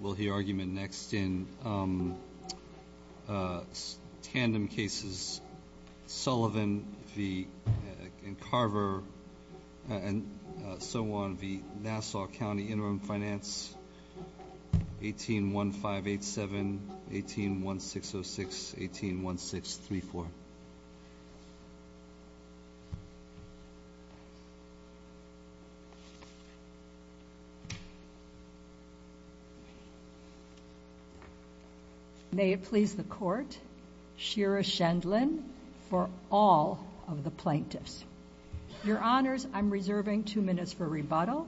will hear argument next in tandem cases Sullivan v. Carver and so on v. Nassau County Interim Finance 181587, 181606, 181634. May it please the court, Shira Shendland for all of the plaintiffs. Your honors, I'm reserving two minutes for rebuttal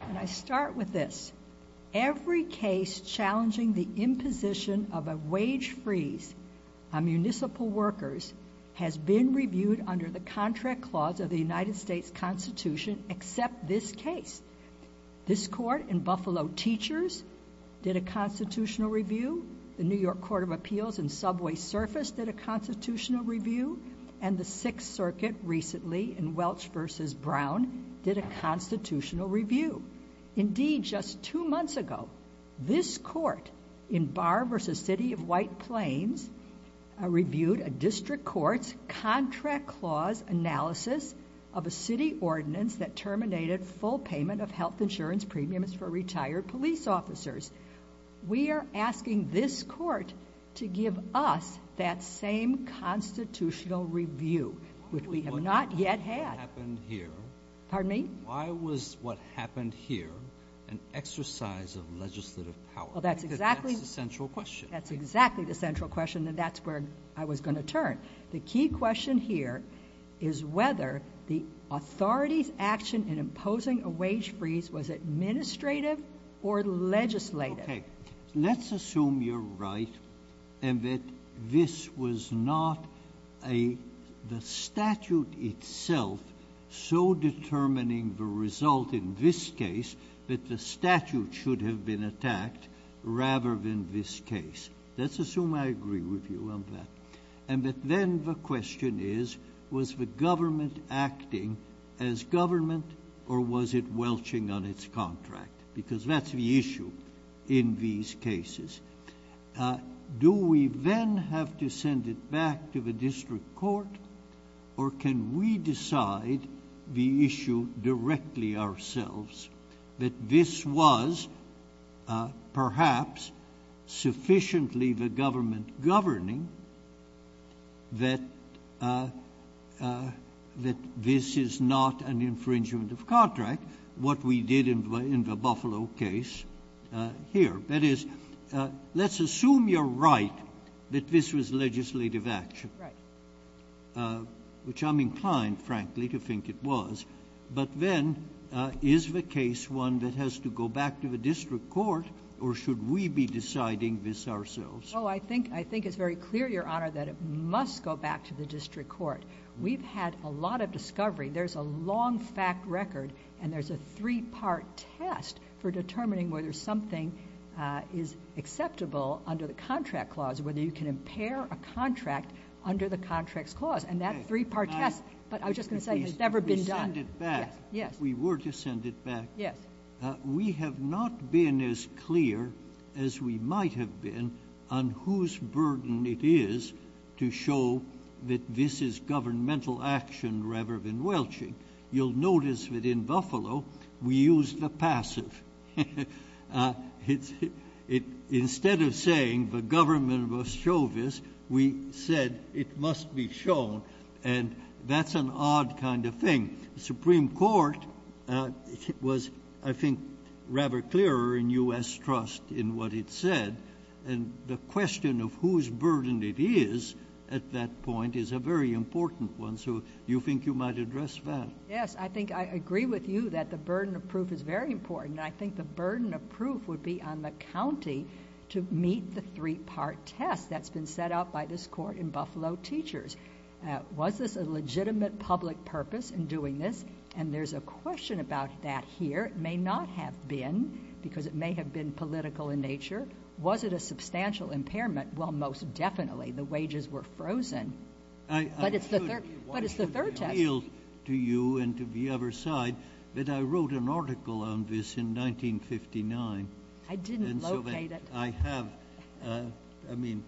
and I start with this. Every case challenging the imposition of a wage freeze on municipal workers has been reviewed under the contract clause of the United States Constitution except this case. This court in Buffalo Teachers did a constitutional review. The New York Court of Appeals in Subway Surface did a constitutional review. And the Sixth Circuit recently in Welch v. Brown did a constitutional review. Indeed, just two months ago, this court in Barr v. City of White Plains reviewed a district court's contract clause analysis of a city ordinance that terminated full payment of health insurance premiums for retired police officers. We are asking this court to give us that same constitutional review, which we have not yet had. Pardon me? Why was what happened here an exercise of legislative power? Well, that's exactly the central question. That's exactly the central question, and that's where I was going to turn. The key question here is whether the authority's action in imposing a wage freeze was administrative or legislative. Okay, let's assume you're right and that this was not the statute itself so determining the result in this case that the statute should have been attacked rather than this case. Let's assume I agree with you on that. And that then the question is, was the government acting as government or was it welching on its contract, because that's the issue in these cases. Do we then have to send it back to the district court or can we decide the issue directly ourselves? That this was perhaps sufficiently the government governing that this is not an infringement of contract, what we did in the Buffalo case here. That is, let's assume you're right that this was legislative action. Right. Which I'm inclined, frankly, to think it was. But then, is the case one that has to go back to the district court or should we be deciding this ourselves? I think it's very clear, your honor, that it must go back to the district court. We've had a lot of discovery. There's a long fact record and there's a three part test for determining whether something is acceptable under the contract clause, whether you can impair a contract under the contract's clause. And that three part test, but I was just going to say, has never been done. We send it back. Yes. We were to send it back. Yes. We have not been as clear as we might have been on whose burden it is to show that this is governmental action rather than welching. You'll notice that in Buffalo, we use the passive. Instead of saying the government must show this, we said it must be shown. And that's an odd kind of thing. Supreme Court was, I think, rather clearer in US trust in what it said. And the question of whose burden it is at that point is a very important one. So you think you might address that? Yes, I think I agree with you that the burden of proof is very important. And I think the burden of proof would be on the county to meet the three part test that's been set up by this court in Buffalo Teachers. Was this a legitimate public purpose in doing this? And there's a question about that here. It may not have been, because it may have been political in nature. Was it a substantial impairment? Well, most definitely. The wages were frozen. But it's the third test. I feel to you and to the other side that I wrote an article on this in 1959. I didn't locate it. I have, I mean,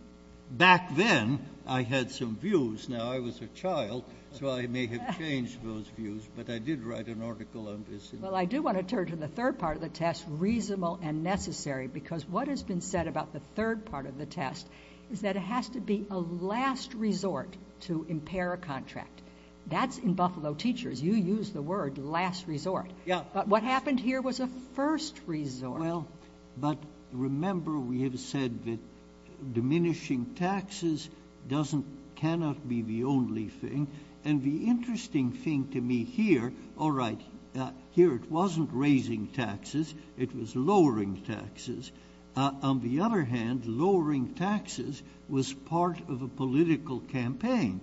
back then, I had some views. Now, I was a child, so I may have changed those views. But I did write an article on this. Well, I do want to turn to the third part of the test, reasonable and necessary. Because what has been said about the third part of the test is that it has to be a last resort to impair a contract. That's in Buffalo Teachers. You used the word last resort. Yeah. But what happened here was a first resort. Well, but remember we have said that diminishing taxes doesn't, cannot be the only thing. And the interesting thing to me here, all right, here it wasn't raising taxes. It was lowering taxes. On the other hand, lowering taxes was part of a political campaign.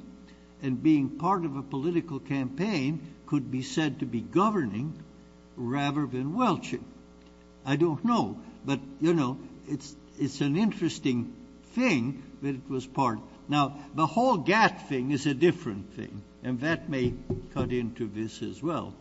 And being part of a political campaign could be said to be governing rather than welching. I don't know, but it's an interesting thing that it was part. Now, the whole GATT thing is a different thing. And that may cut into this as well,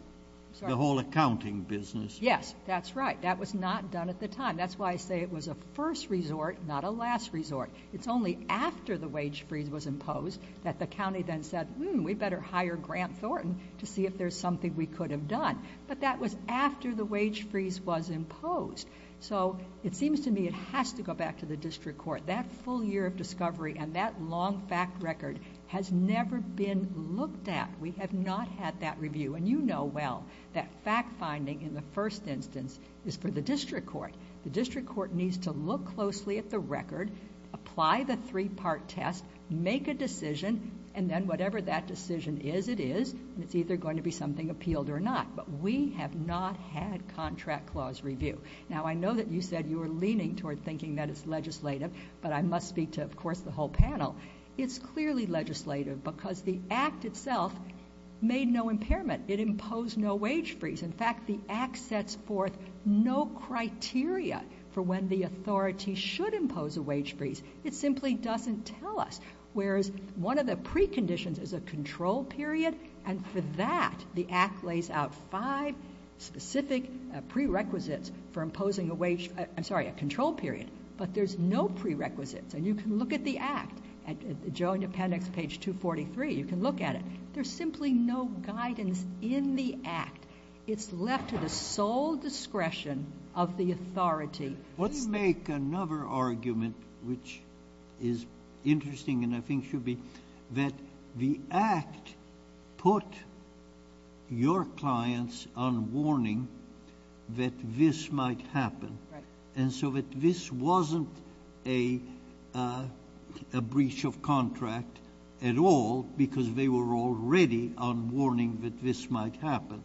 the whole accounting business. Yes, that's right. That was not done at the time. That's why I say it was a first resort, not a last resort. It's only after the wage freeze was imposed that the county then said, we better hire Grant Thornton to see if there's something we could have done. But that was after the wage freeze was imposed. So it seems to me it has to go back to the district court. That full year of discovery and that long fact record has never been looked at. We have not had that review. And you know well that fact finding in the first instance is for the district court. The district court needs to look closely at the record, apply the three-part test, make a decision, and then whatever that decision is, it is. And it's either going to be something appealed or not. But we have not had contract clause review. Now, I know that you said you were leaning toward thinking that it's legislative. But I must speak to, of course, the whole panel. It's clearly legislative because the act itself made no impairment. It imposed no wage freeze. In fact, the act sets forth no criteria for when the authority should impose a wage freeze. It simply doesn't tell us. Whereas, one of the preconditions is a control period. And for that, the act lays out five specific prerequisites for imposing a wage, I'm sorry, a control period. But there's no prerequisites. And you can look at the act, at the Joe Independence page 243, you can look at it. There's simply no guidance in the act. It's left to the sole discretion of the authority. Let's make another argument which is interesting and I think should be that the act put your clients on warning that this might happen. And so that this wasn't a breach of contract at all because they were already on warning that this might happen.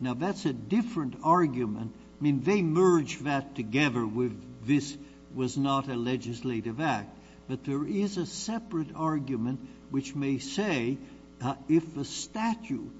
Now, that's a different argument. I mean, they merge that together with this was not a legislative act. But there is a separate argument which may say if the statute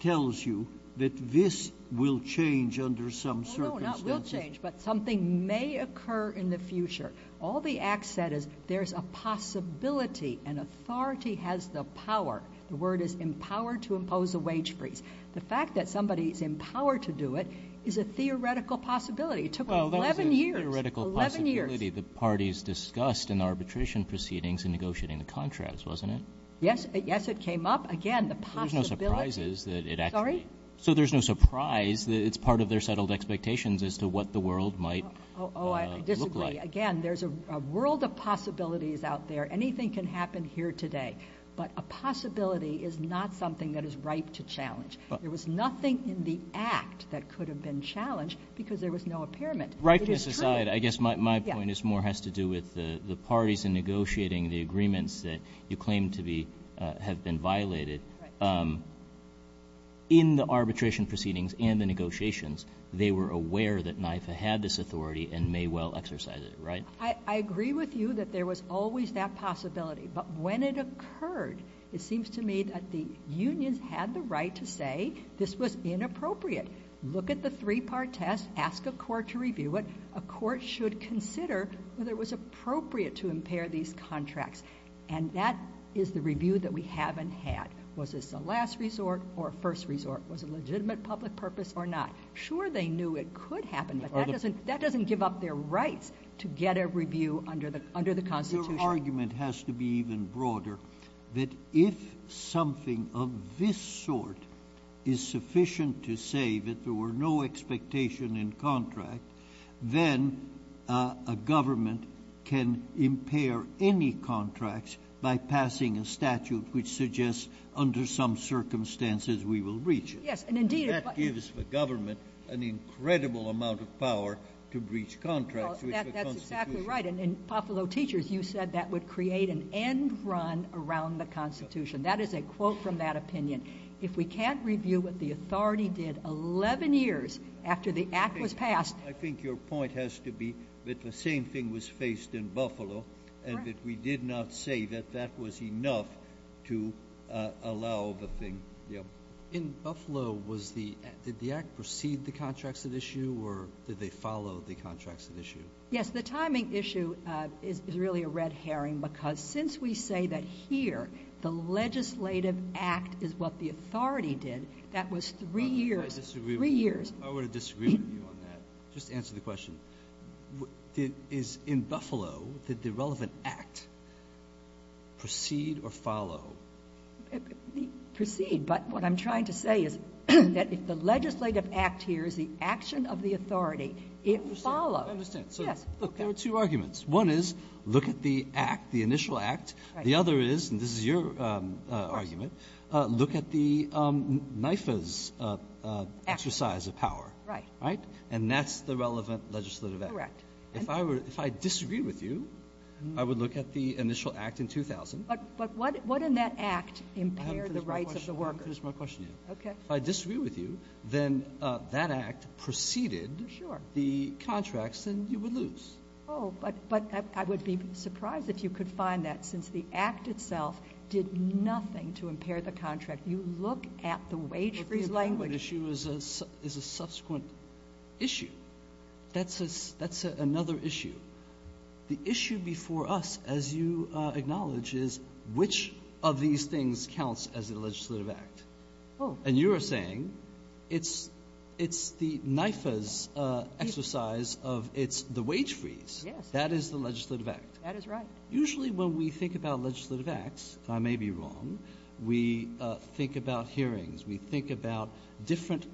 tells you that this will change under some circumstances. No, no, not will change, but something may occur in the future. All the act said is there's a possibility, an authority has the power. The word is empowered to impose a wage freeze. The fact that somebody is empowered to do it is a theoretical possibility. It took 11 years, 11 years. The parties discussed in arbitration proceedings in negotiating the contracts, wasn't it? Yes, yes, it came up. Again, the possibility. There's no surprises that it actually. Sorry? So there's no surprise that it's part of their settled expectations as to what the world might look like. Oh, I disagree. Again, there's a world of possibilities out there. Anything can happen here today. But a possibility is not something that is ripe to challenge. There was nothing in the act that could have been challenged because there was no impairment. Rightness aside, I guess my point is more has to do with the parties in negotiating the agreements that you claim to be have been violated. In the arbitration proceedings and the negotiations, they were aware that NIFA had this authority and may well exercise it, right? I agree with you that there was always that possibility. But when it occurred, it seems to me that the unions had the right to say this was inappropriate. Look at the three-part test. Ask a court to review it. A court should consider whether it was appropriate to impair these contracts. And that is the review that we haven't had. Was this a last resort or a first resort? Was it a legitimate public purpose or not? Sure, they knew it could happen, but that doesn't give up their rights to get a review under the Constitution. Your argument has to be even broader, that if something of this sort is sufficient to say that there were no expectation in contract, then a government can impair any contracts by passing a statute which suggests under some circumstances we will breach it. Yes. That gives the government an incredible amount of power to breach contracts. Well, that's exactly right. And in Buffalo Teachers, you said that would create an end run around the Constitution. That is a quote from that opinion. If we can't review what the authority did 11 years after the act was passed— I think your point has to be that the same thing was faced in Buffalo and that we did not say that that was enough to allow the thing. Yeah. In Buffalo, did the act precede the contracts at issue or did they follow the contracts at issue? Yes. The timing issue is really a red herring because since we say that here the legislative act is what the authority did, that was three years. I would disagree with you on that. Just answer the question. Is in Buffalo, did the relevant act proceed or follow? Proceed. But what I'm trying to say is that if the legislative act here is the action of the authority, it follows. I understand. So look, there are two arguments. One is look at the act, the initial act. The other is, and this is your argument, look at the NIFA's exercise of power. Right. Right? And that's the relevant legislative act. Correct. If I disagree with you, I would look at the initial act in 2000. But what in that act impaired the rights of the workers? I haven't finished my question yet. Okay. If I disagree with you, then that act preceded the contracts and you would lose. Oh, but I would be surprised if you could find that since the act itself did nothing to impair the contract. You look at the wage freeze language. The relevant issue is a subsequent issue. That's another issue. The issue before us, as you acknowledge, is which of these things counts as a legislative act. Oh. And you are saying it's the NIFA's exercise of it's the wage freeze. Yes. That is the legislative act. That is right. Usually when we think about legislative acts, I may be wrong, we think about hearings. We think about different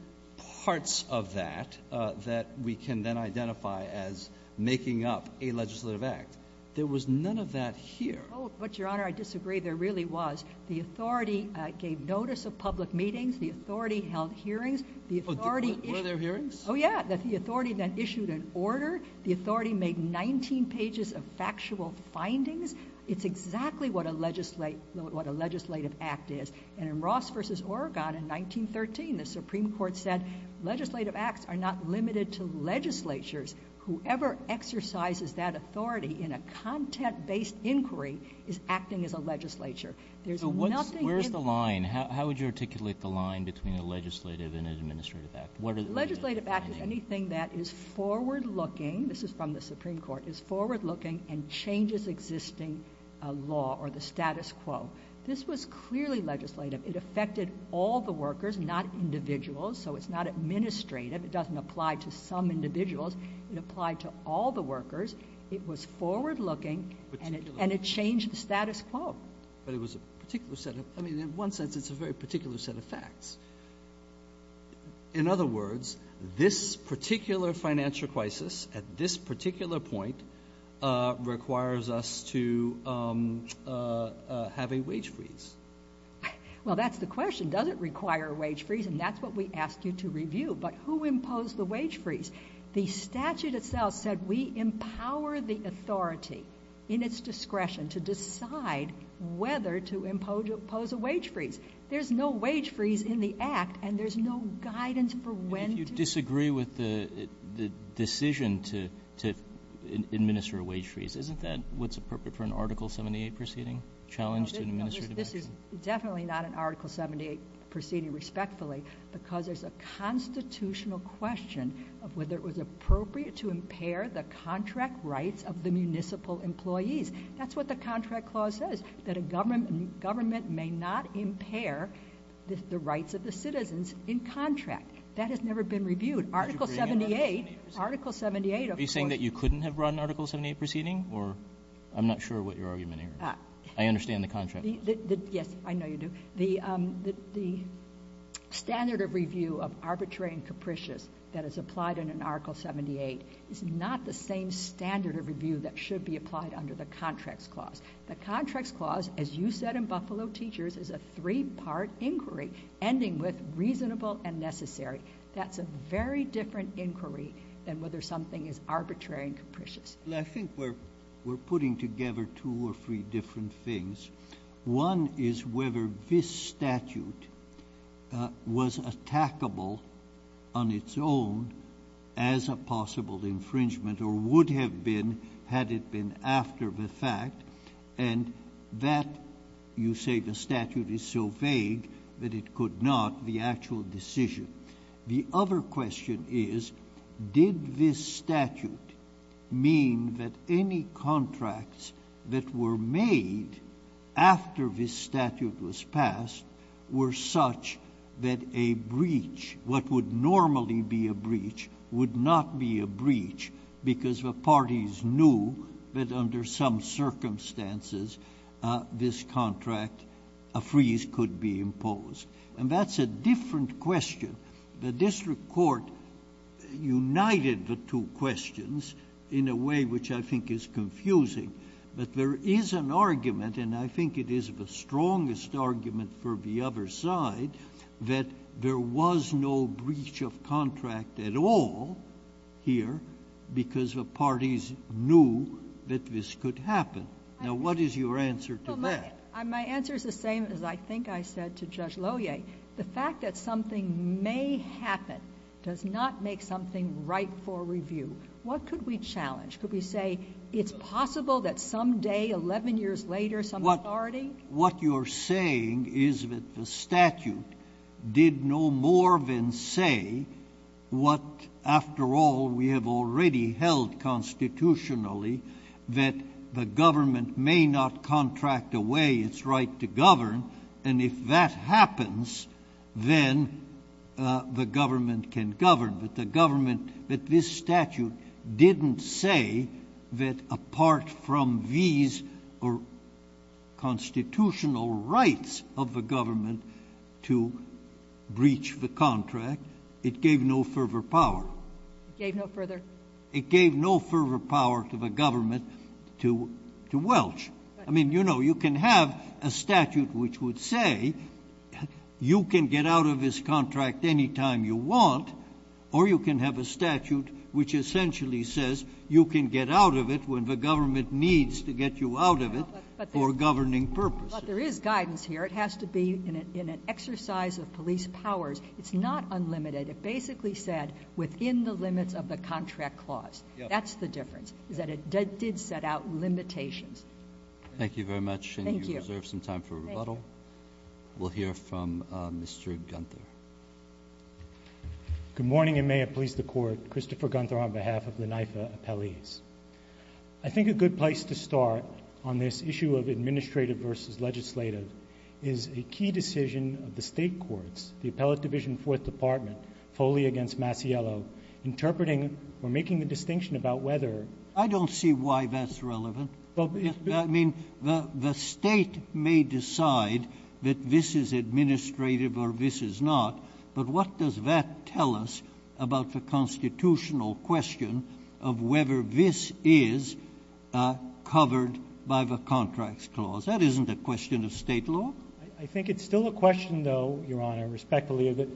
parts of that that we can then identify as making up a legislative act. There was none of that here. Oh, but your honor, I disagree. There really was. The authority gave notice of public meetings. The authority held hearings. The authority... Were there hearings? Oh, yeah. The authority then issued an order. The authority made 19 pages of factual findings. It's exactly what a legislative act is. And in Ross v. Oregon in 1913, the Supreme Court said legislative acts are not limited to legislatures. Whoever exercises that authority in a content-based inquiry is acting as a legislature. There's nothing... Where's the line? How would you articulate the line between a legislative and an administrative act? Legislative act is anything that is forward-looking, this is from the Supreme Court, is forward-looking and changes existing law or the status quo. This was clearly legislative. It affected all the workers, not individuals. So it's not administrative. It doesn't apply to some individuals. It applied to all the workers. It was forward-looking and it changed the status quo. But it was a particular set of... I mean, in one sense, it's a very particular set of facts. In other words, this particular financial crisis at this particular point requires us to have a wage freeze. Well, that's the question. Does it require a wage freeze? And that's what we ask you to review. But who imposed the wage freeze? The statute itself said we empower the authority in its discretion to decide whether to impose a wage freeze. There's no wage freeze in the act and there's no guidance for when to... If you disagree with the decision to administer a wage freeze, isn't that what's appropriate for an Article 78 proceeding? Challenge to administrative action? This is definitely not an Article 78 proceeding, respectfully, because there's a constitutional question of whether it was appropriate to impair the contract rights of the municipal employees. That's what the contract clause says, that a government may not impair the rights of the citizens in contract. That has never been reviewed. Article 78, Article 78, of course... Are you saying that you couldn't have run an Article 78 proceeding? Or I'm not sure what your argument is. I understand the contract clause. Yes, I know you do. The standard of review of arbitrary and capricious that is applied in an Article 78 is not the same standard of review that should be applied under the contracts clause. The contracts clause, as you said in Buffalo Teachers, is a three-part inquiry, ending with reasonable and necessary. That's a very different inquiry than whether something is arbitrary and capricious. Well, I think we're putting together two or three different things. One is whether this statute was attackable on its own as a possible infringement or would have been had it been after the fact. And that, you say the statute is so vague that it could not, the actual decision. The other question is, did this statute mean that any contracts that were made after this statute was passed were such that a breach, what would normally be a breach, would not be a breach because the parties knew that under some circumstances this contract, a freeze could be imposed? And that's a different question. The district court united the two questions in a way which I think is confusing. But there is an argument, and I think it is the strongest argument for the other side, that there was no breach of contract at all here because the parties knew that this could happen. Now, what is your answer to that? My answer is the same as I think I said to Judge Lohier. The fact that something may happen does not make something right for review. What could we challenge? Could we say it's possible that someday, 11 years later, some authority? What you're saying is that the statute did no more than say what, after all, we have already held constitutionally that the government may not contract away its right to govern, and if that happens, then the government can govern. But the government, that this statute didn't say that apart from these constitutional rights of the government to breach the contract, it gave no further power. It gave no further? It gave no further power to the government to welch. I mean, you know, you can have a statute which would say you can get out of this contract any time you want, or you can have a statute which essentially says you can get out of it when the government needs to get you out of it for governing purposes. But there is guidance here. It has to be in an exercise of police powers. It's not unlimited. It basically said within the limits of the contract clause. That's the difference, is that it did set out limitations. Thank you very much, and you reserve some time for rebuttal. Thank you. We'll hear from Mr. Gunther. Good morning, and may it please the Court. Christopher Gunther on behalf of the NYFA appellees. I think a good place to start on this issue of administrative versus legislative is a key decision of the State courts, the Appellate Division Fourth Department foley against Masiello, interpreting or making the distinction about whether I don't see why that's relevant. I mean, the State may decide that this is administrative or this is not, but what does that tell us about the constitutional question of whether this is covered by the contracts clause? That isn't a question of State law. I think it's still a question, though, Your Honor, respectfully, of it.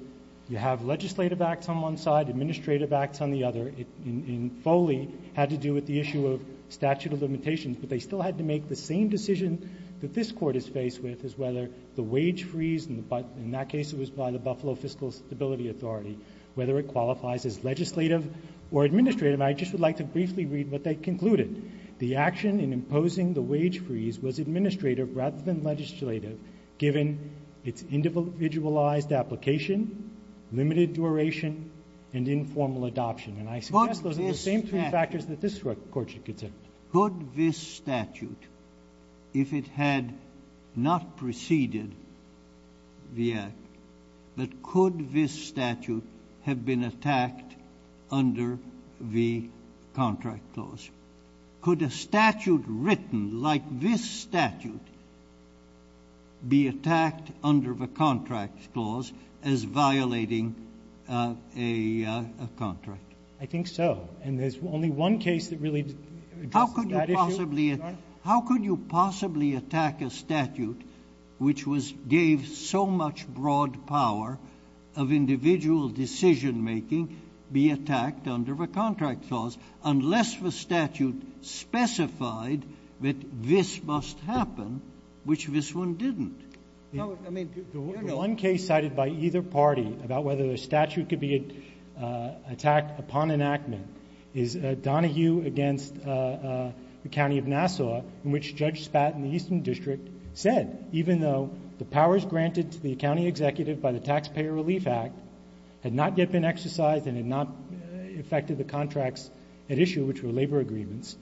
You have legislative acts on one side, administrative acts on the other. And foley had to do with the issue of statute of limitations, but they still had to make the same decision that this Court is faced with as whether the wage freeze in that case it was by the Buffalo Fiscal Stability Authority, whether it qualifies as legislative or administrative. And I just would like to briefly read what they concluded. The action in imposing the wage freeze was administrative rather than legislative given its individualized application, limited duration, and informal adoption. And I suggest those are the same three factors that this Court should consider. Could this statute, if it had not preceded the act, but could this statute have been attacked under the contract clause? Could a statute written like this statute be attacked under the contract clause as violating a contract? I think so. And there's only one case that really addresses that issue, Your Honor. How could you possibly attack a statute which gave so much broad power of individual decision-making be attacked under the contract clause unless the statute specified that this must happen, which this one didn't? I mean, Your Honor. The one case cited by either party about whether the statute could be attacked upon enactment is Donahue v. Nassau, in which Judge Spat in the Eastern District said, even though the powers granted to the county executive by the Taxpayer Relief Act had not yet been exercised and had not affected the contracts at issue, which were labor agreements,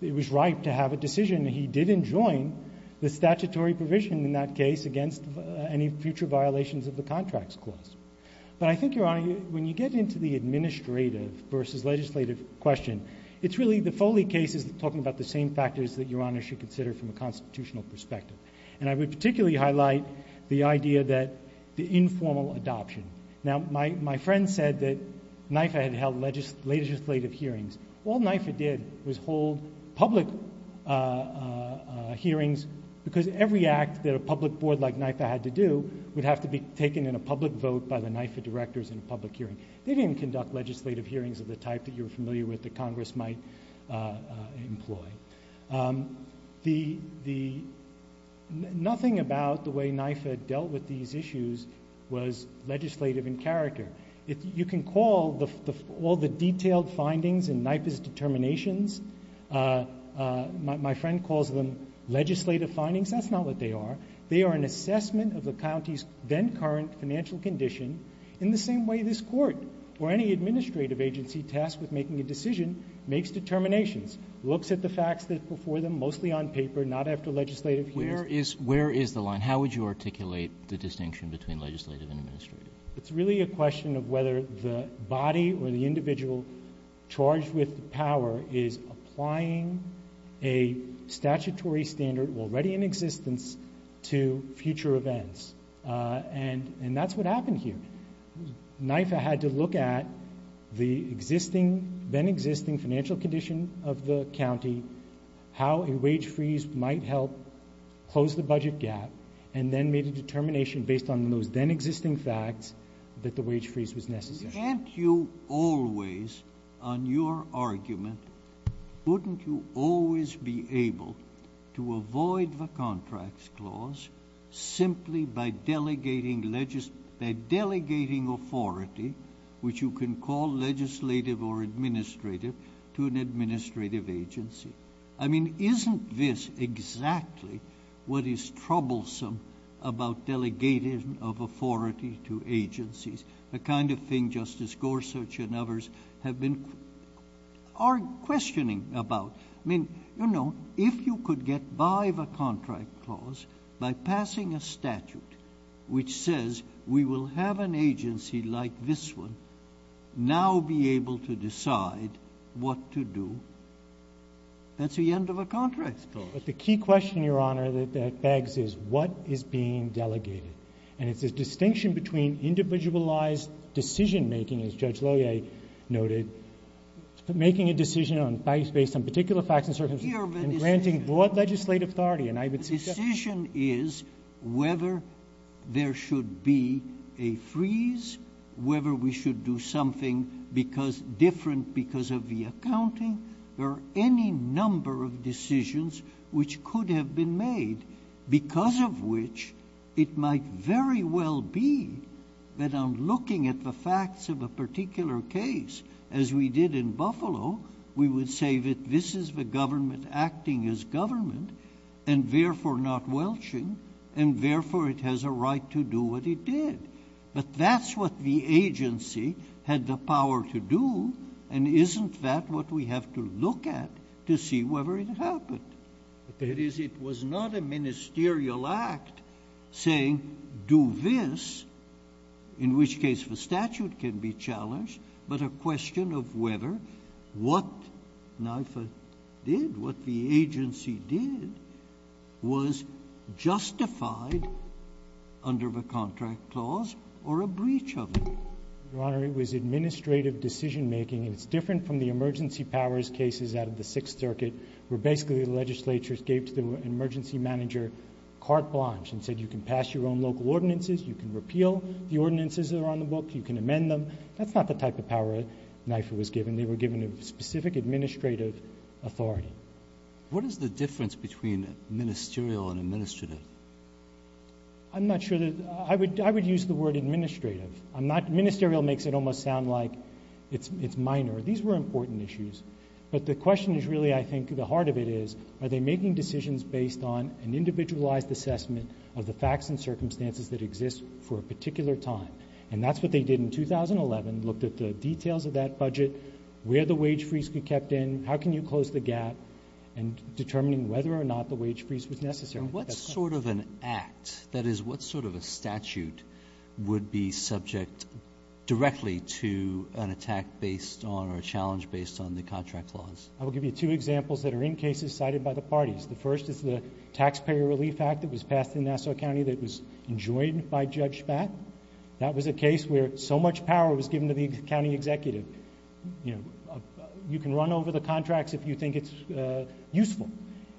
it was right to have a decision. He didn't join the statutory provision in that case against any future violations of the contracts clause. But I think, Your Honor, when you get into the administrative versus legislative question, it's really the Foley case is talking about the same factors that Your Honor should consider from a constitutional perspective. And I would particularly highlight the idea that the informal adoption. Now, my friend said that NIFA had held legislative hearings. All NIFA did was hold public hearings because every act that a public board like NIFA had to do would have to be taken in a public vote by the NIFA directors in a public hearing. They didn't conduct legislative hearings of the type that you're familiar with that Congress might employ. Nothing about the way NIFA dealt with these issues was legislative in character. You can call all the detailed findings in NIFA's determinations, my friend calls them legislative findings. That's not what they are. They are an assessment of the county's then current financial condition in the same way this court or any administrative agency tasked with making a decision makes determinations, looks at the facts before them, mostly on paper, not after legislative hearings. Where is the line? How would you articulate the distinction between legislative and administrative? It's really a question of whether the body or the individual charged with the power is applying a statutory standard already in existence to future events. And that's what happened here. NIFA had to look at the then existing financial condition of the county, how a wage freeze might help close the budget gap, and then made a determination based on those then existing facts that the wage freeze was necessary. Can't you always, on your argument, wouldn't you always be able to avoid the contracts clause simply by delegating authority, which you can call legislative or administrative, to an administrative agency? I mean, isn't this exactly what is troublesome about delegating of authority to agencies, the kind of thing Justice Gorsuch and others have been questioning about? I mean, you know, if you could get by the contract clause by passing a statute which says we will have an agency like this one now be able to decide what to do, that's the end of a contract clause. But the key question, Your Honor, that begs is what is being delegated? And it's this distinction between individualized decision-making, as Judge Loyer noted, making a decision based on particular facts and circumstances, and granting broad legislative authority. And I would suggest— The decision is whether there should be a freeze, whether we should do something different because of the accounting. There are any number of decisions which could have been made, because of which it might very well be that on looking at the facts of a particular case, as we did in Buffalo, we would say that this is the government acting as government, and therefore not welching, and therefore it has a right to do what it did. But that's what the agency had the power to do, and isn't that what we have to look at to see whether it happened? It was not a ministerial act saying do this, in which case the statute can be challenged, but a question of whether what NIFA did, what the agency did, was justified under the contract clause or a breach of it. Your Honor, it was administrative decision-making, and it's different from the emergency powers cases out of the Sixth Circuit, where basically the legislature gave to the emergency manager carte blanche and said you can pass your own local ordinances, you can repeal the ordinances that are on the book, you can amend them. That's not the type of power NIFA was given. They were given a specific administrative authority. What is the difference between ministerial and administrative? I'm not sure that—I would use the word administrative. I'm not—ministerial makes it almost sound like it's minor. These were important issues, but the question is really, I think, the heart of it is are they making decisions based on an individualized assessment of the facts and circumstances that exist for a particular time? And that's what they did in 2011, looked at the details of that budget, where the wage freeze could be kept in, how can you close the gap, and determining whether or not the wage freeze was necessary. And what sort of an act, that is, what sort of a statute would be subject directly to an attack based on or a challenge based on the contract laws? I will give you two examples that are in cases cited by the parties. The first is the Taxpayer Relief Act that was passed in Nassau County that was enjoined by Judge Spatt. That was a case where so much power was given to the county executive. You can run over the contracts if you think it's useful,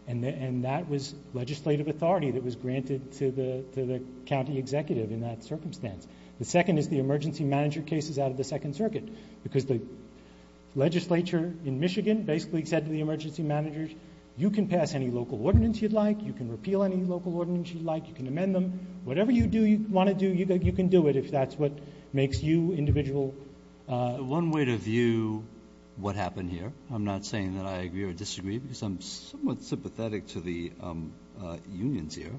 and that was legislative authority that was granted to the county executive in that circumstance. The second is the emergency manager cases out of the Second Circuit because the legislature in Michigan basically said to the emergency managers, you can pass any local ordinance you'd like, you can repeal any local ordinance you'd like, you can amend them. Whatever you do you want to do, you can do it if that's what makes you individual. JUSTICE BREYER. One way to view what happened here, I'm not saying that I agree or disagree because I'm somewhat sympathetic to the unions here,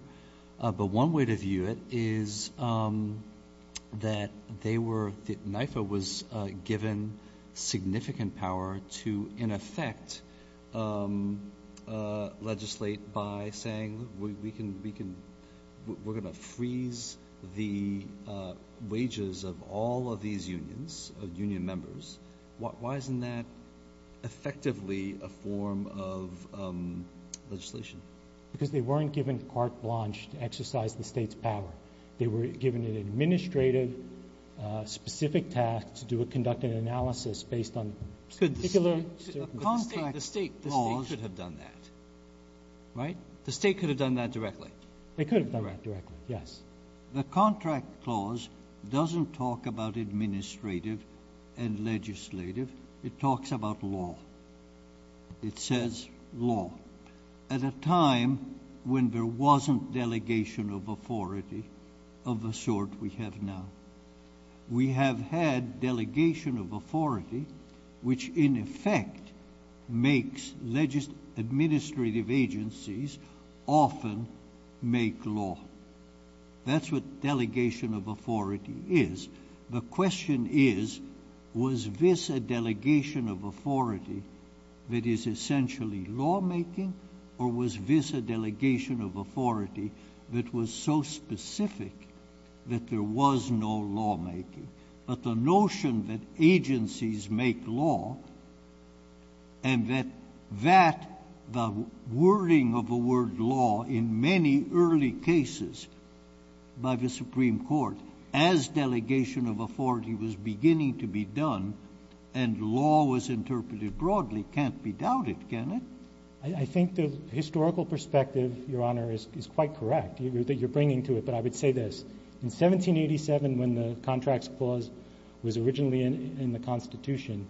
but one way to view it is that NIFA was given significant power to, in effect, legislate by saying we're going to freeze the wages of all of these unions, union members. Why isn't that effectively a form of legislation? GOLDBERG. Because they weren't given carte blanche to exercise the State's power. They were given an administrative specific task to do a conductive analysis based on particular circumstances. JUSTICE BREYER. The State could have done that, right? MR. GOLDBERG. The State could have done that directly. MR. GOLDBERG. They could have done that directly, yes. JUSTICE BREYER. The contract clause doesn't talk about administrative and legislative. It talks about law. It says law. At a time when there wasn't delegation of authority of the sort we have now, we have had delegation of authority which, in effect, makes administrative agencies often make law. That's what delegation of authority is. The question is, was this a delegation of authority that is essentially lawmaking, or was this a delegation of authority that was so specific that there was no lawmaking? But the notion that agencies make law and that that wording of the word law in many early cases by the Supreme Court, as delegation of authority was beginning to be done and law was interpreted broadly, can't be doubted, can it? MR. GOLDBERG. I think the historical perspective, Your Honor, is quite correct. You're bringing to it. But I would say this. In 1787, when the contracts clause was originally in the Constitution,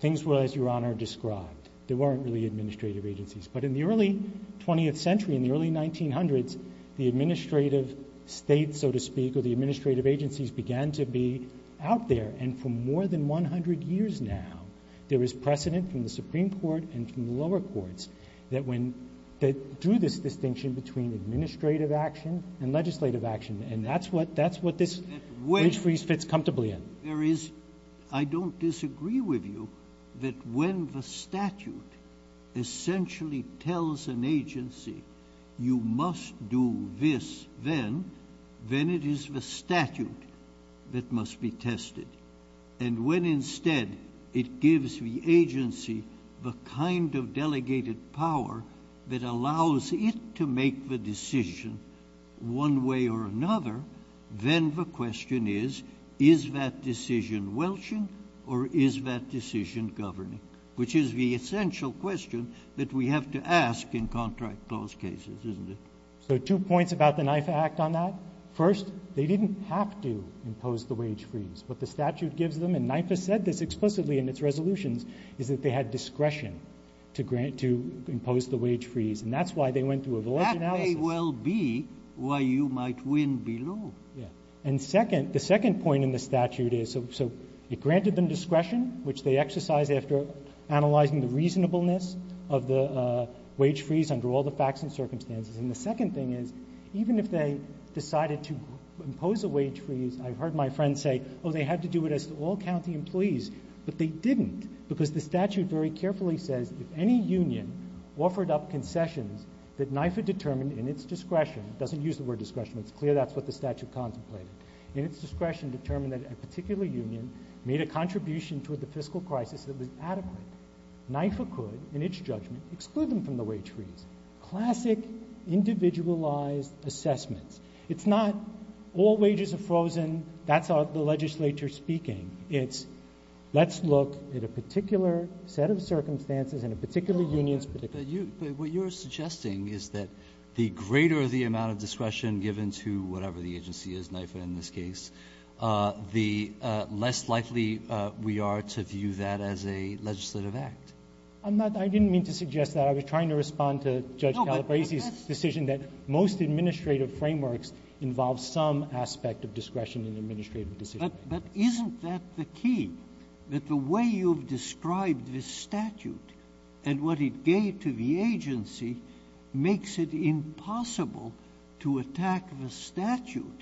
things were, as Your Honor described, there weren't really administrative agencies. But in the early 20th century, in the early 1900s, the administrative states, so to speak, or the administrative agencies began to be out there. And for more than 100 years now, there was precedent from the Supreme Court and from the lower courts that when they drew this distinction between administrative action and legislative action, and that's what this wage freeze fits comfortably SENATOR COONS, CHIEF JUSTICE OF THE COUNTRY, I don't disagree with you that when the statute essentially tells an agency, you must do this then, then it is the statute that must be tested. And when instead it gives the agency the kind of delegated power that allows it to make the decision one way or another, then the question is, is that decision welching or is that decision governing? Which is the essential question that we have to ask in contract clause cases, isn't it? MR. GOLDBERG. So two points about the NIFA Act on that. First, they didn't have to impose the wage freeze. What the statute gives them, and NIFA said this explicitly in its resolutions, is that they had discretion to grant to impose the wage freeze. And that's why they went through a volatile analysis. SENATOR COONS. That may well be why you might win below. MR. GOLDBERG. Yes. And second, the second point in the statute is, so it granted them discretion, which they exercised after analyzing the reasonableness of the wage freeze under all the facts and circumstances. And the second thing is, even if they decided to impose a wage freeze, I've heard my friends say, oh, they had to do it as to all county employees. But they didn't, because the statute very carefully says, if any union offered up concessions that NIFA determined in its discretion, it doesn't use the word discretion. It's clear that's what the statute contemplated. In its discretion determined that a particular union made a contribution toward the fiscal crisis that was adequate, NIFA could, in its judgment, exclude them from the wage freeze. Classic, individualized assessments. It's not all wages are frozen, that's the legislature speaking. It's let's look at a particular set of circumstances and a particular union's particular union. BRENNAN What you're suggesting is that the greater the amount of discretion given to whatever the agency is, NIFA in this case, the less likely we are to view that as a legislative act. MR. GOLDBERG. I didn't mean to suggest that. I was trying to respond to Judge Calabresi's decision that most administrative frameworks involve some aspect of discretion in administrative decision-making. JUSTICE BREYER. But isn't that the key, that the way you've described the statute and what it gave to the agency makes it impossible to attack the statute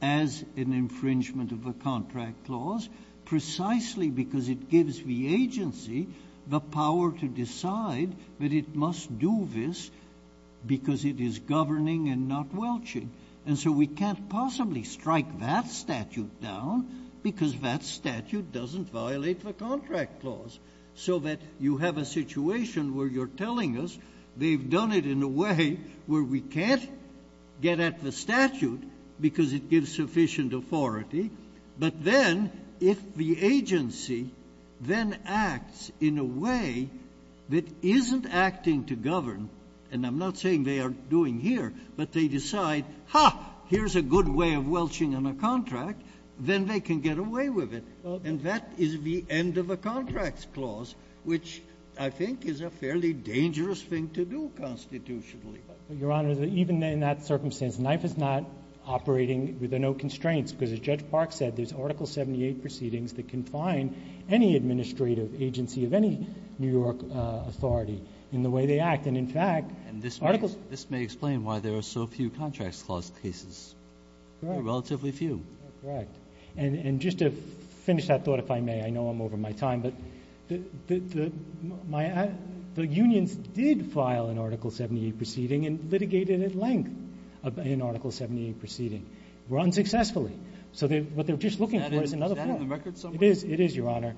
as an infringement of a contract clause, precisely because it gives the agency the power to decide that it must do this because it is governing and not welching? And so we can't possibly strike that statute down because that statute doesn't violate the contract clause, so that you have a situation where you're telling us they've done it in a way where we can't get at the statute because it gives sufficient authority. But then if the agency then acts in a way that isn't acting to govern, and I'm not saying they aren't doing here, but they decide, ha, here's a good way of welching on a contract, then they can get away with it. And that is the end of a contracts clause, which I think is a fairly dangerous thing to do constitutionally. MR. GOLDBERG. Your Honor, even in that circumstance, NIFA is not operating with no constraints because, as Judge Park said, there's Article 78 proceedings that can find any administrative agency of any New York authority in the way they act. JUSTICE BREYER. And this may explain why there are so few contracts clause cases. MR. GOLDBERG. JUSTICE BREYER. There are relatively few. MR. GOLDBERG. Correct. And just to finish that thought, if I may, I know I'm over my time, but the unions did file an Article 78 proceeding and litigated at length in Article 78 proceeding. It was unsuccessful. So what they're just looking for is another clause. JUSTICE BREYER. Is that on the record somewhere? MR. GOLDBERG. It is. It is, Your Honor.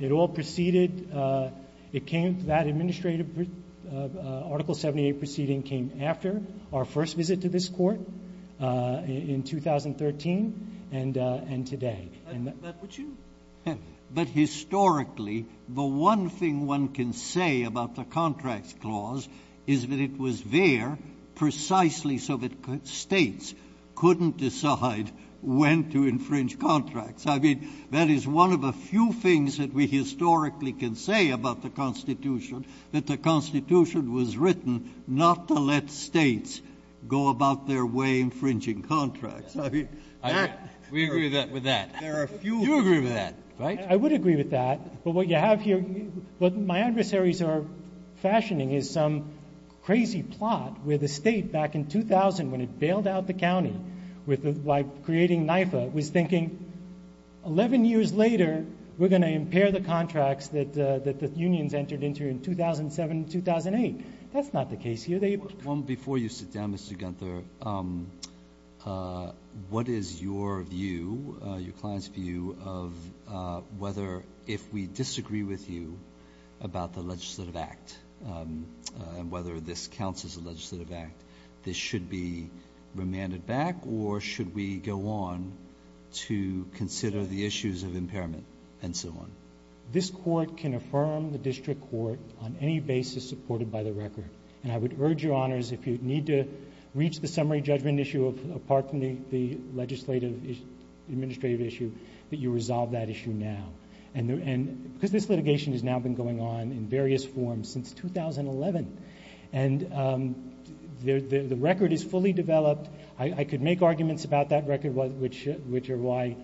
It all proceeded ñ it came ñ that administrative Article 78 proceeding came after our first visit to this Court in 2013 and today. JUSTICE BREYER. But would you ñ but historically, the one thing one can say about the contracts clause is that it was there precisely so that States couldn't decide when to infringe contracts. I mean, that is one of the few things that we historically can say about the Constitution, that the Constitution was written not to let States go about their way infringing I mean, that ñ JUSTICE BREYER. We agree with that. MR. GOLDBERG. There are a few ñ JUSTICE BREYER. You agree with that, right? MR. GOLDBERG. I would agree with that. But what you have here ñ what my adversaries are fashioning is some crazy plot where the State, back in 2000, when it bailed out the county with ñ by creating NYFA, was thinking, 11 years later, we're going to impair the contracts that the unions entered into in 2007 and 2008. That's not the case here. They ñ JUSTICE BREYER. Well, before you sit down, Mr. Guenther, what is your view, your client's view, of whether, if we disagree with you about the legislative act and whether this counts as a legislative act, this should be remanded back, or should we go on to consider the issues of impairment and so on? MR. GUENTHER. This Court can affirm the district court on any basis supported by the record. And I would urge your Honors, if you need to reach the summary judgment issue apart from the legislative issue, the administrative issue, that you resolve that issue now. And ñ because this litigation has now been going on in various forms since 2011. And the record is fully developed. I could make arguments about that record, which are why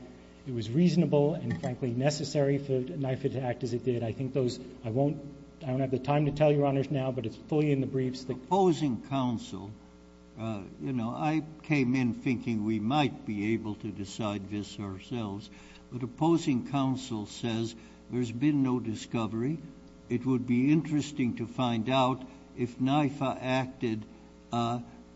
it was reasonable and, frankly, necessary for NYFA to act as it did. I think those ñ I won't ñ I don't have the time to tell your Honors now, but it's fully in the briefs that ñ JUSTICE SOTOMAYOR. You know, I came in thinking we might be able to decide this ourselves. But opposing counsel says there's been no discovery. It would be interesting to find out if NYFA acted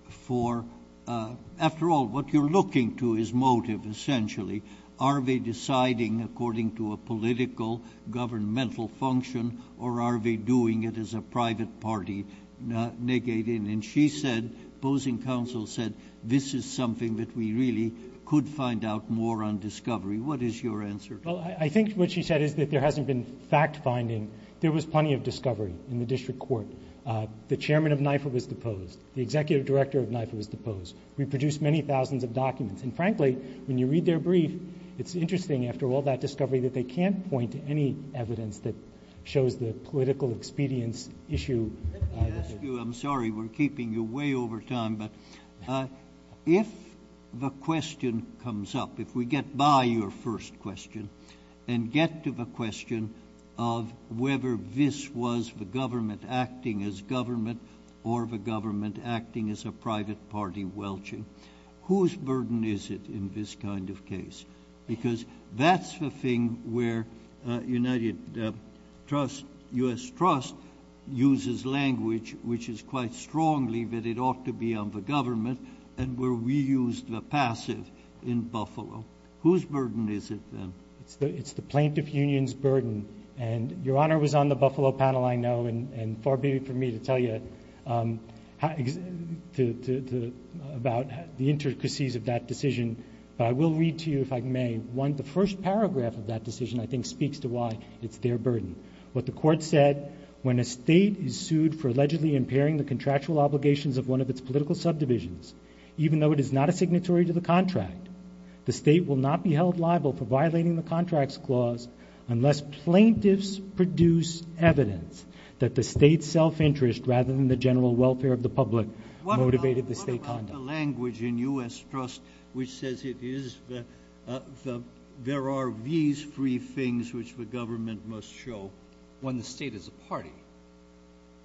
for ñ after all, what you're looking to is motive, essentially. Are they deciding according to a political, governmental function, or are they doing it as a private party negating? And she said ñ opposing counsel said this is something that we really could find out more on discovery. MR. BOUTROUS. Well, I think what she said is that there hasn't been fact-finding. There was plenty of discovery in the district court. The chairman of NYFA was deposed. The executive director of NYFA was deposed. We produced many thousands of documents. And, frankly, when you read their brief, it's interesting, after all that discovery, that they can't point to any evidence that shows the political expedience issue ñ I'm sorry, we're keeping you way over time ñ but if the question comes up, if we get by your first question and get to the question of whether this was the government acting as government or the government acting as a private party welching, whose burden is it in this kind of case? Because that's the thing where United Trusts, U.S. Trust, uses language which is quite strongly that it ought to be on the government and where we used the passive in Buffalo. Whose burden is it, then? MR. GOLDSTEIN. It's the plaintiff union's burden. And Your Honor was on the Buffalo panel, I know, and far be it for me to tell you about the intricacies of that decision. But I will read to you, if I may, one of the first paragraphs of that decision I think speaks to why it's their burden. What the Court said, when a state is sued for allegedly impairing the contractual obligations of one of its political subdivisions, even though it is not a signatory to the contract, the state will not be held liable for violating the contract's clause unless plaintiffs produce evidence that the state's self-interest, rather than the general welfare of the public, motivated the state conduct. JUSTICE BREYER. The language in U.S. Trust which says it is the, there are these three things which the government must show when the state is a party. MR. GOLDSTEIN.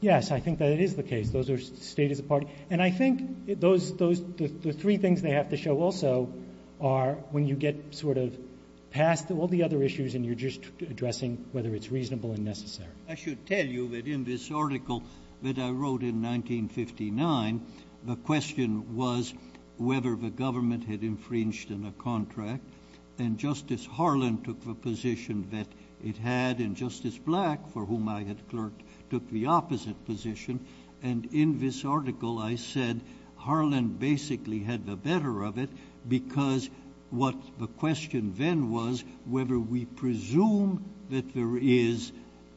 Yes, I think that it is the case. Those are state is a party. And I think those, those, the three things they have to show also are when you get sort of past all the other issues and you're just addressing whether it's reasonable and necessary. JUSTICE BREYER. I should tell you that in this article that I wrote in 1959, the question was whether the government had infringed on a contract. And Justice Harlan took the position that it had. And Justice Black, for whom I had clerked, took the opposite position. And in this article, I said Harlan basically had the better of it because what the question then was whether we presume that there is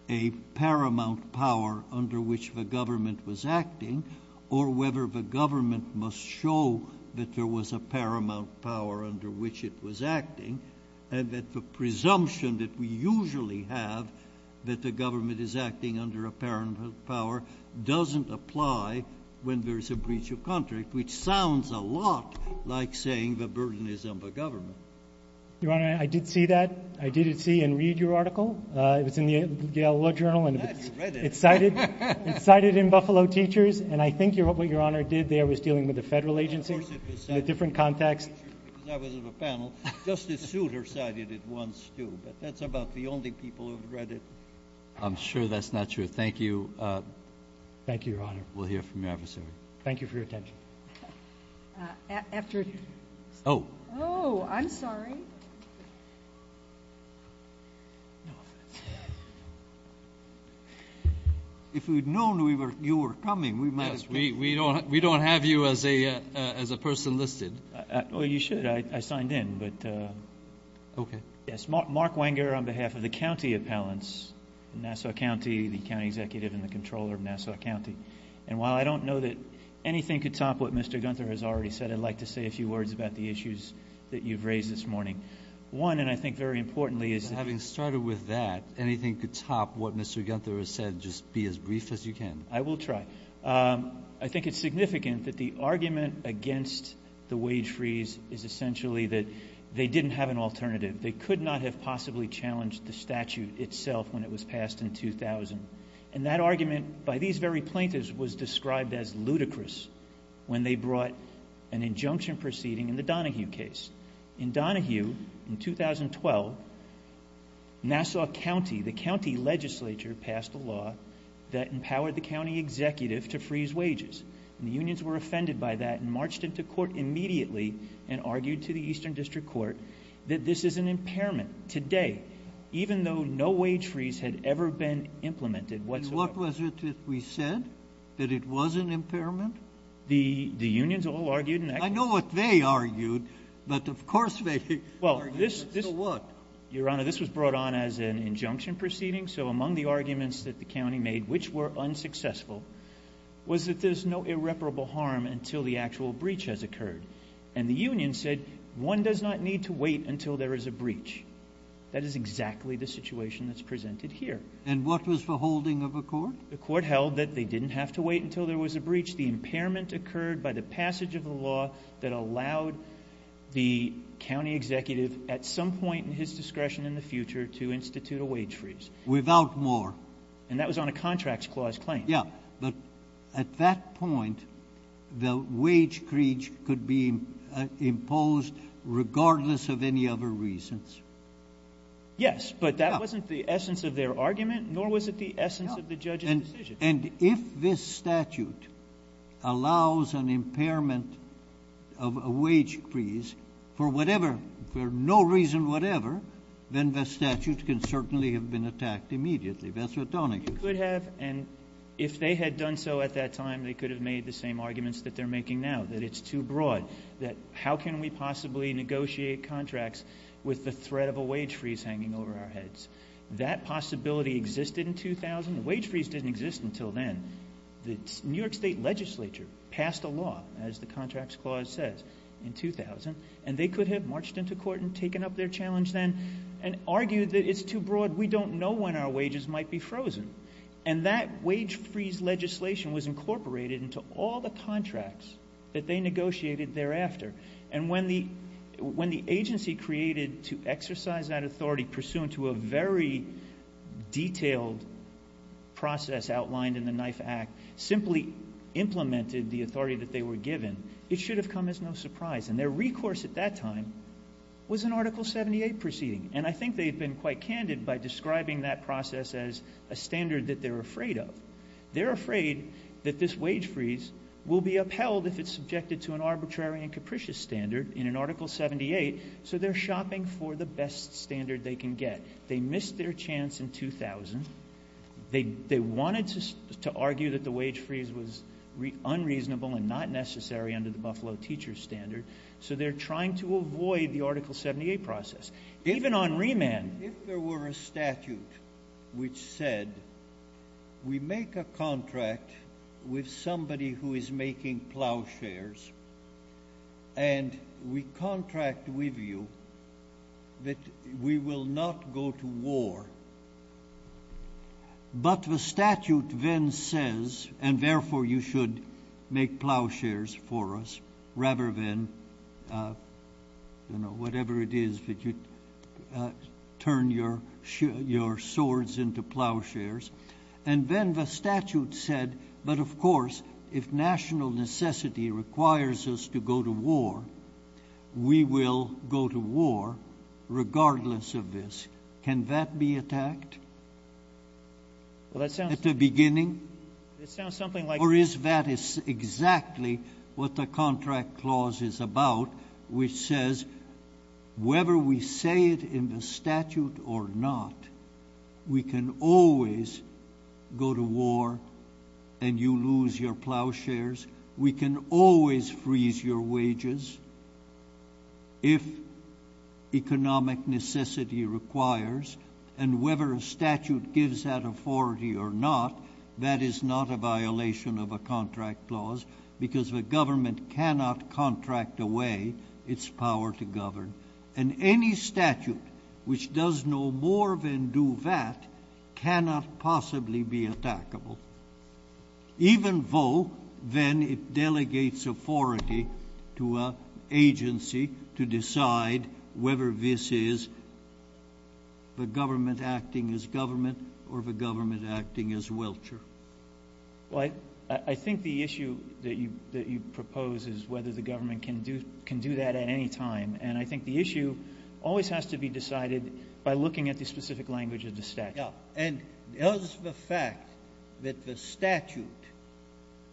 a paramount power under which the government was acting or whether the government must show that there was a paramount power under which it was acting and that the presumption that we usually have that the government is acting under a paramount power doesn't apply when there is a breach of contract, which sounds a lot like saying the burden is on the government. Your Honor, I did see that. I did see and read your article. It was in the Yale Law Journal and it's cited, it's cited in Buffalo Teachers. And I think what your Honor did there was dealing with the federal agency in a different JUSTICE BREYER. Of course it was cited in Buffalo Teachers because I was on the panel. Justice Souter cited it once too, but that's about the only people who have read it. I'm sure that's not true. Thank you. Thank you, Your Honor. We'll hear from you after the hearing. Thank you for your attention. After. Oh. Oh, I'm sorry. If we'd known we were, you were coming, we might as well, we don't, we don't have you as a, as a person listed. Oh, you should. I signed in, but, okay. Yes. Mark Wenger on behalf of the County Appellants in Nassau County, the County Executive and the Comptroller of Nassau County. And while I don't know that anything could top what Mr. Gunther has already said, I'd like to say a few words about the issues that you've raised this morning. One, and I think very importantly is having started with that, anything could top what Mr. Gunther has said. Just be as brief as you can. I will try. I think it's significant that the argument against the wage freeze is essentially that they didn't have an alternative. They could not have possibly challenged the statute itself when it was passed in 2000. And that argument by these very plaintiffs was described as ludicrous when they brought an injunction proceeding in the Donahue case. In Donahue in 2012, Nassau County, the County Legislature passed a law that empowered the County Executive to freeze wages. And the unions were offended by that and marched into court immediately and argued to the Eastern District Court that this is an impairment today, even though no wage freeze had ever been implemented whatsoever. And what was it that we said? That it was an impairment? The unions all argued. I know what they argued, but of course they argued, so what? Your Honor, this was brought on as an injunction proceeding. So among the arguments that the county made, which were unsuccessful, was that there's no irreparable harm until the actual breach has occurred. And the union said, one does not need to wait until there is a breach. That is exactly the situation that's presented here. And what was the holding of the court? The impairment occurred by the passage of the law that allowed the County Executive at some point in his discretion in the future to institute a wage freeze. Without more. And that was on a contract clause claim. Yeah. But at that point, the wage breach could be imposed regardless of any other reasons. Yes, but that wasn't the essence of their argument, nor was it the essence of the judge's decision. And if this statute allows an impairment of a wage freeze for whatever, for no reason whatever, then the statute can certainly have been attacked immediately. That's what Donahue said. It could have, and if they had done so at that time, they could have made the same arguments that they're making now, that it's too broad, that how can we possibly negotiate contracts with the threat of a wage freeze hanging over our heads? That possibility existed in 2000. Wage freeze didn't exist until then. The New York State legislature passed a law, as the contracts clause says, in 2000, and they could have marched into court and taken up their challenge then and argued that it's too broad. We don't know when our wages might be frozen. And that wage freeze legislation was incorporated into all the contracts that they negotiated thereafter. And when the agency created to exercise that authority pursuant to a very detailed process outlined in the Knife Act, simply implemented the authority that they were given, it should have come as no surprise. And their recourse at that time was an Article 78 proceeding. And I think they've been quite candid by describing that process as a standard that they're afraid of. They're afraid that this wage freeze will be upheld if it's subjected to an arbitrary and capricious standard in an Article 78. So they're shopping for the best standard they can get. They missed their chance in 2000. They wanted to argue that the wage freeze was unreasonable and not necessary under the Buffalo teacher standard. So they're trying to avoid the Article 78 process, even on remand. If there were a statute which said, we make a contract with somebody who is making plow shares, and we contract with you that we will not go to war. But the statute then says, and therefore, you should make plow shares for us rather than, you know, whatever it is that you turn your swords into plow shares. And then the statute said, but of course, if national necessity requires us to go to war, we will go to war regardless of this. Can that be attacked? Well, that's at the beginning, it sounds something like, or is that is exactly what the contract clause is about, which says, whether we say it in the statute or not, we can always go to war and you lose your plow shares. We can always freeze your wages if economic necessity requires. And whether a statute gives that authority or not, that is not a violation of a contract clause because the government cannot contract away its power to govern. And any statute which does no more than do that cannot possibly be attackable. Even though then it delegates authority to a agency to decide whether this is the government acting as government or the government acting as welcher. Well, I think the issue that you propose is whether the government can do that at any time, and I think the issue always has to be decided by looking at the specific language of the statute. Now, and does the fact that the statute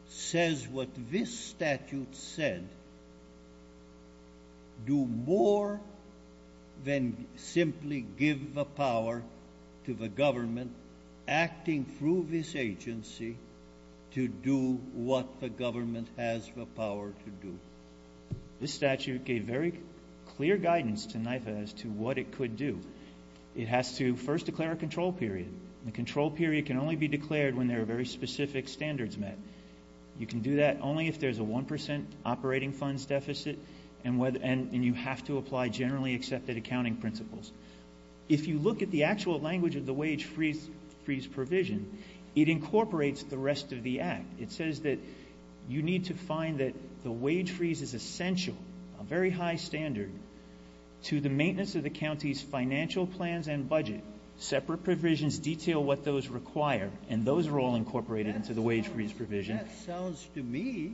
says what this statute said do more than simply give the power to the government acting through this agency to do what the government has the power to do? This statute gave very clear guidance to NYFA as to what it could do. It has to first declare a control period. The control period can only be declared when there are very specific standards met. You can do that only if there's a 1% operating funds deficit and you have to apply generally accepted accounting principles. If you look at the actual language of the wage freeze provision, it incorporates the rest of the act. It says that you need to find that the wage freeze is essential, a very high standard to the maintenance of the county's financial plans and budget. Separate provisions detail what those require, and those are all incorporated into the wage freeze provision. That sounds to me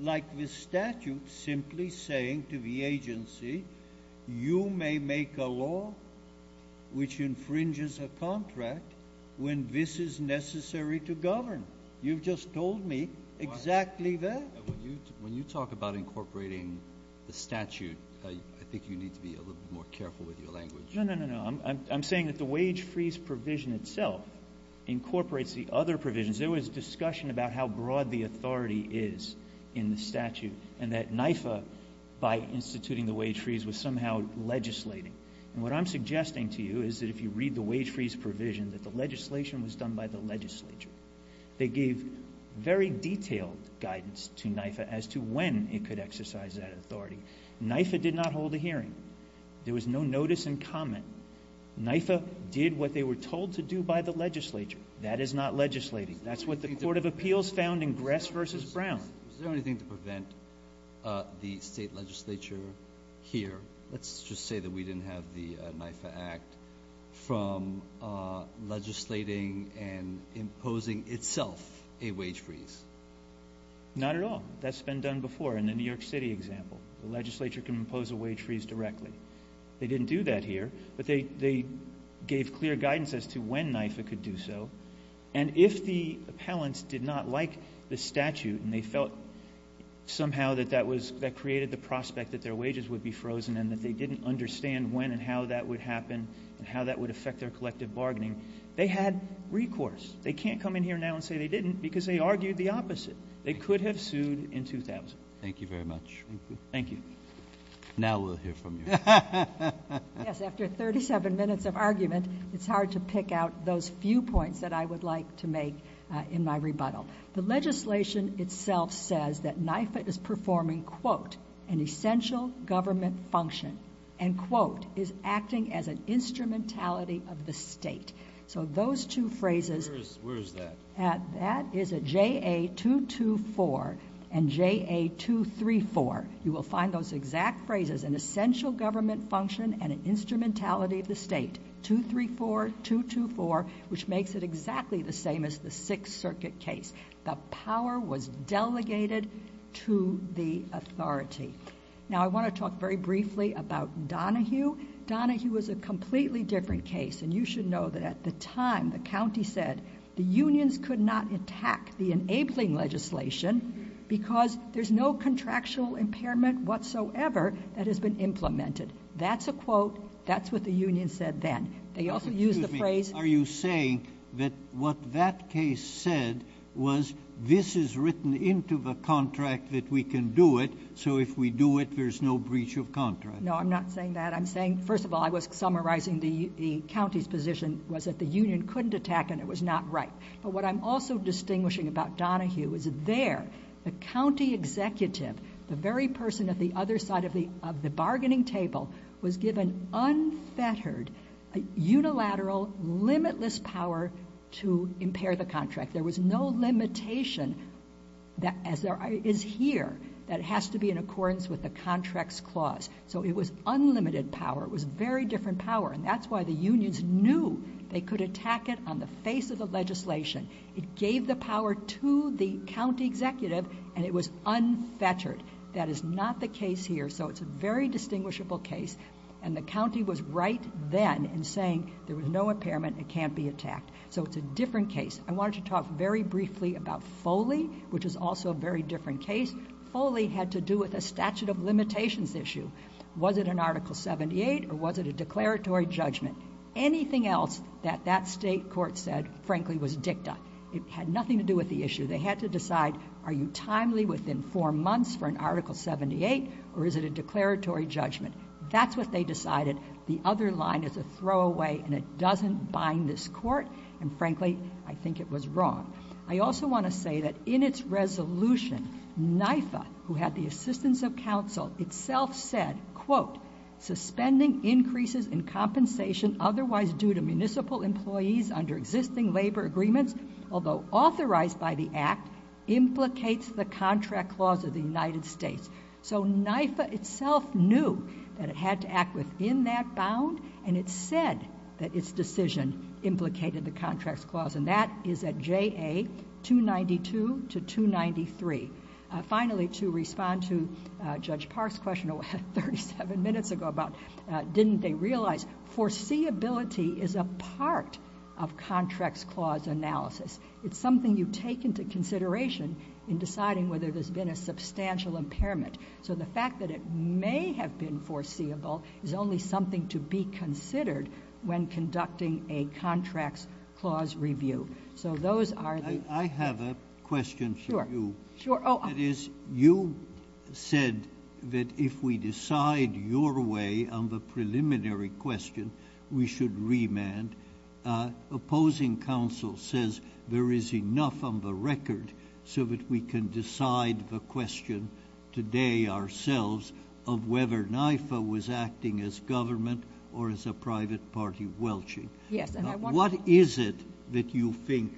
like the statute simply saying to the agency, you may make a law which infringes a contract when this is necessary to govern. You've just told me exactly that. When you talk about incorporating the statute, I think you need to be a little more careful with your language. No, no, no, no. I'm saying that the wage freeze provision itself incorporates the other provisions. There was discussion about how broad the authority is in the statute and that NYFA by instituting the wage freeze was somehow legislating. And what I'm suggesting to you is that if you read the wage freeze provision, that the legislation was done by the legislature. They gave very detailed guidance to NYFA as to when it could exercise that authority. NYFA did not hold a hearing. There was no notice and comment. NYFA did what they were told to do by the legislature. That is not legislating. That's what the court of appeals found in Gress versus Brown. Is there anything to prevent the state legislature here, let's just say that we a wage freeze? Not at all. That's been done before. In the New York City example, the legislature can impose a wage freeze directly. They didn't do that here, but they, they gave clear guidance as to when NYFA could do so. And if the appellants did not like the statute and they felt somehow that that was, that created the prospect that their wages would be frozen and that they didn't understand when and how that would happen and how that would affect their collective bargaining, they had recourse. They can't come in here now and say they didn't because they argued the opposite. They could have sued in 2000. Thank you very much. Thank you. Now we'll hear from you. Yes. After 37 minutes of argument, it's hard to pick out those few points that I would like to make in my rebuttal. The legislation itself says that NYFA is performing quote, an essential government function and quote is acting as an instrumentality of the state. So those two phrases, that is a JA 224 and JA 234. You will find those exact phrases, an essential government function and an instrumentality of the state. 234, 224, which makes it exactly the same as the Sixth Circuit case. The power was delegated to the authority. Now I want to talk very briefly about Donahue. Donahue was a completely different case. And you should know that at the time, the County said the unions could not attack the enabling legislation because there's no contractual impairment whatsoever that has been implemented. That's a quote. That's what the union said. Then they also use the phrase. Are you saying that what that case said was this is written into the contract that we can do it. So if we do it, there's no breach of contract. No, I'm not saying that. I'm saying, first of all, I was summarizing the County's position was that the union couldn't attack and it was not right, but what I'm also distinguishing about Donahue is there, the County executive, the very person at the other side of the bargaining table was given unfettered, unilateral, limitless power to impair the contract. There was no limitation that is here that has to be in accordance with the contracts clause. So it was unlimited power. It was very different power. And that's why the unions knew they could attack it on the face of the legislation. It gave the power to the County executive and it was unfettered. That is not the case here. So it's a very distinguishable case. And the County was right then and saying there was no impairment. It can't be attacked. So it's a different case. I wanted to talk very briefly about Foley, which is also a very different case. Foley had to do with a statute of limitations issue. Was it an article 78 or was it a declaratory judgment? Anything else that that state court said, frankly, was dicta. It had nothing to do with the issue. They had to decide, are you timely within four months for an article 78, or is it a declaratory judgment? That's what they decided. The other line is a throwaway and it doesn't bind this court. And frankly, I think it was wrong. I also want to say that in its resolution, NYFA, who had the assistance of counsel itself said, quote, suspending increases in compensation, otherwise due to municipal employees under existing labor agreements, although authorized by the act implicates the contract clause of the United States. So NYFA itself knew that it had to act within that bound. And it said that its decision implicated the contracts clause. And that is at JA 292 to 293. Finally, to respond to Judge Park's question 37 minutes ago about didn't they realize foreseeability is a part of contracts clause analysis. It's something you take into consideration in deciding whether there's been a substantial impairment. So the fact that it may have been foreseeable is only something to be considered when conducting a contracts clause review. So those are the, I have a question for you. Sure. It is, you said that if we decide your way on the preliminary question, we should remand, uh, opposing counsel says there is enough on the record so that we can decide the question today ourselves of whether NYFA was acting as government or as a private party welching. Yes. What is it that you think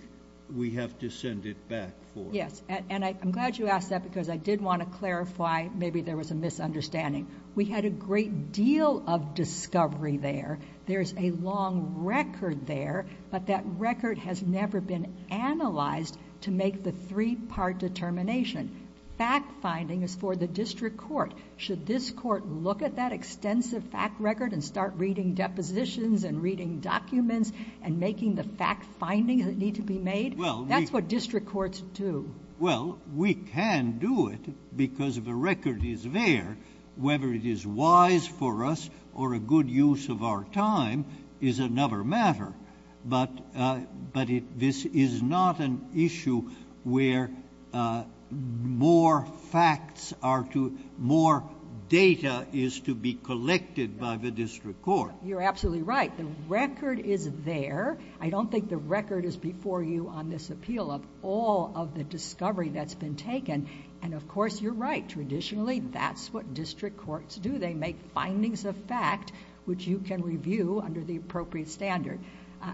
we have to send it back for? Yes. And I'm glad you asked that because I did want to clarify, maybe there was a misunderstanding. We had a great deal of discovery there. There's a long record there, but that record has never been analyzed to make the three part determination. Fact finding is for the district court. Should this court look at that extensive fact record and start reading depositions and reading documents and making the fact findings that need to be made, that's what district courts do. Well, we can do it because of the record is there, whether it is wise for us or a good use of our time is another matter. But, uh, but it, this is not an issue where, uh, more facts are to, more data is to be collected by the district court. You're absolutely right. The record is there. I don't think the record is before you on this appeal of all of the discovery that's been taken. And of course you're right. Traditionally, that's what district courts do. They make findings of fact, which you can review under the appropriate standard.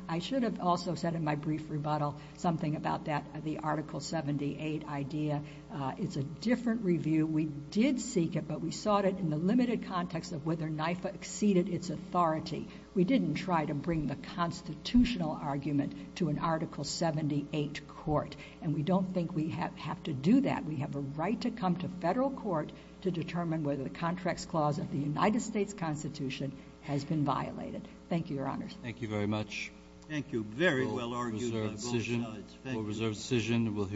I should have also said in my brief rebuttal, something about that, the article 78 idea. Uh, it's a different review. We did seek it, but we sought it in the limited context of whether NYFA exceeded its authority. We didn't try to bring the constitutional argument to an article 78 court. And we don't think we have, have to do that. We have a right to come to federal court to determine whether the contracts clause of the United States constitution has been violated. Thank you, your honors. Thank you very much. Thank you. Very well argued. Reserved decision, we'll hear.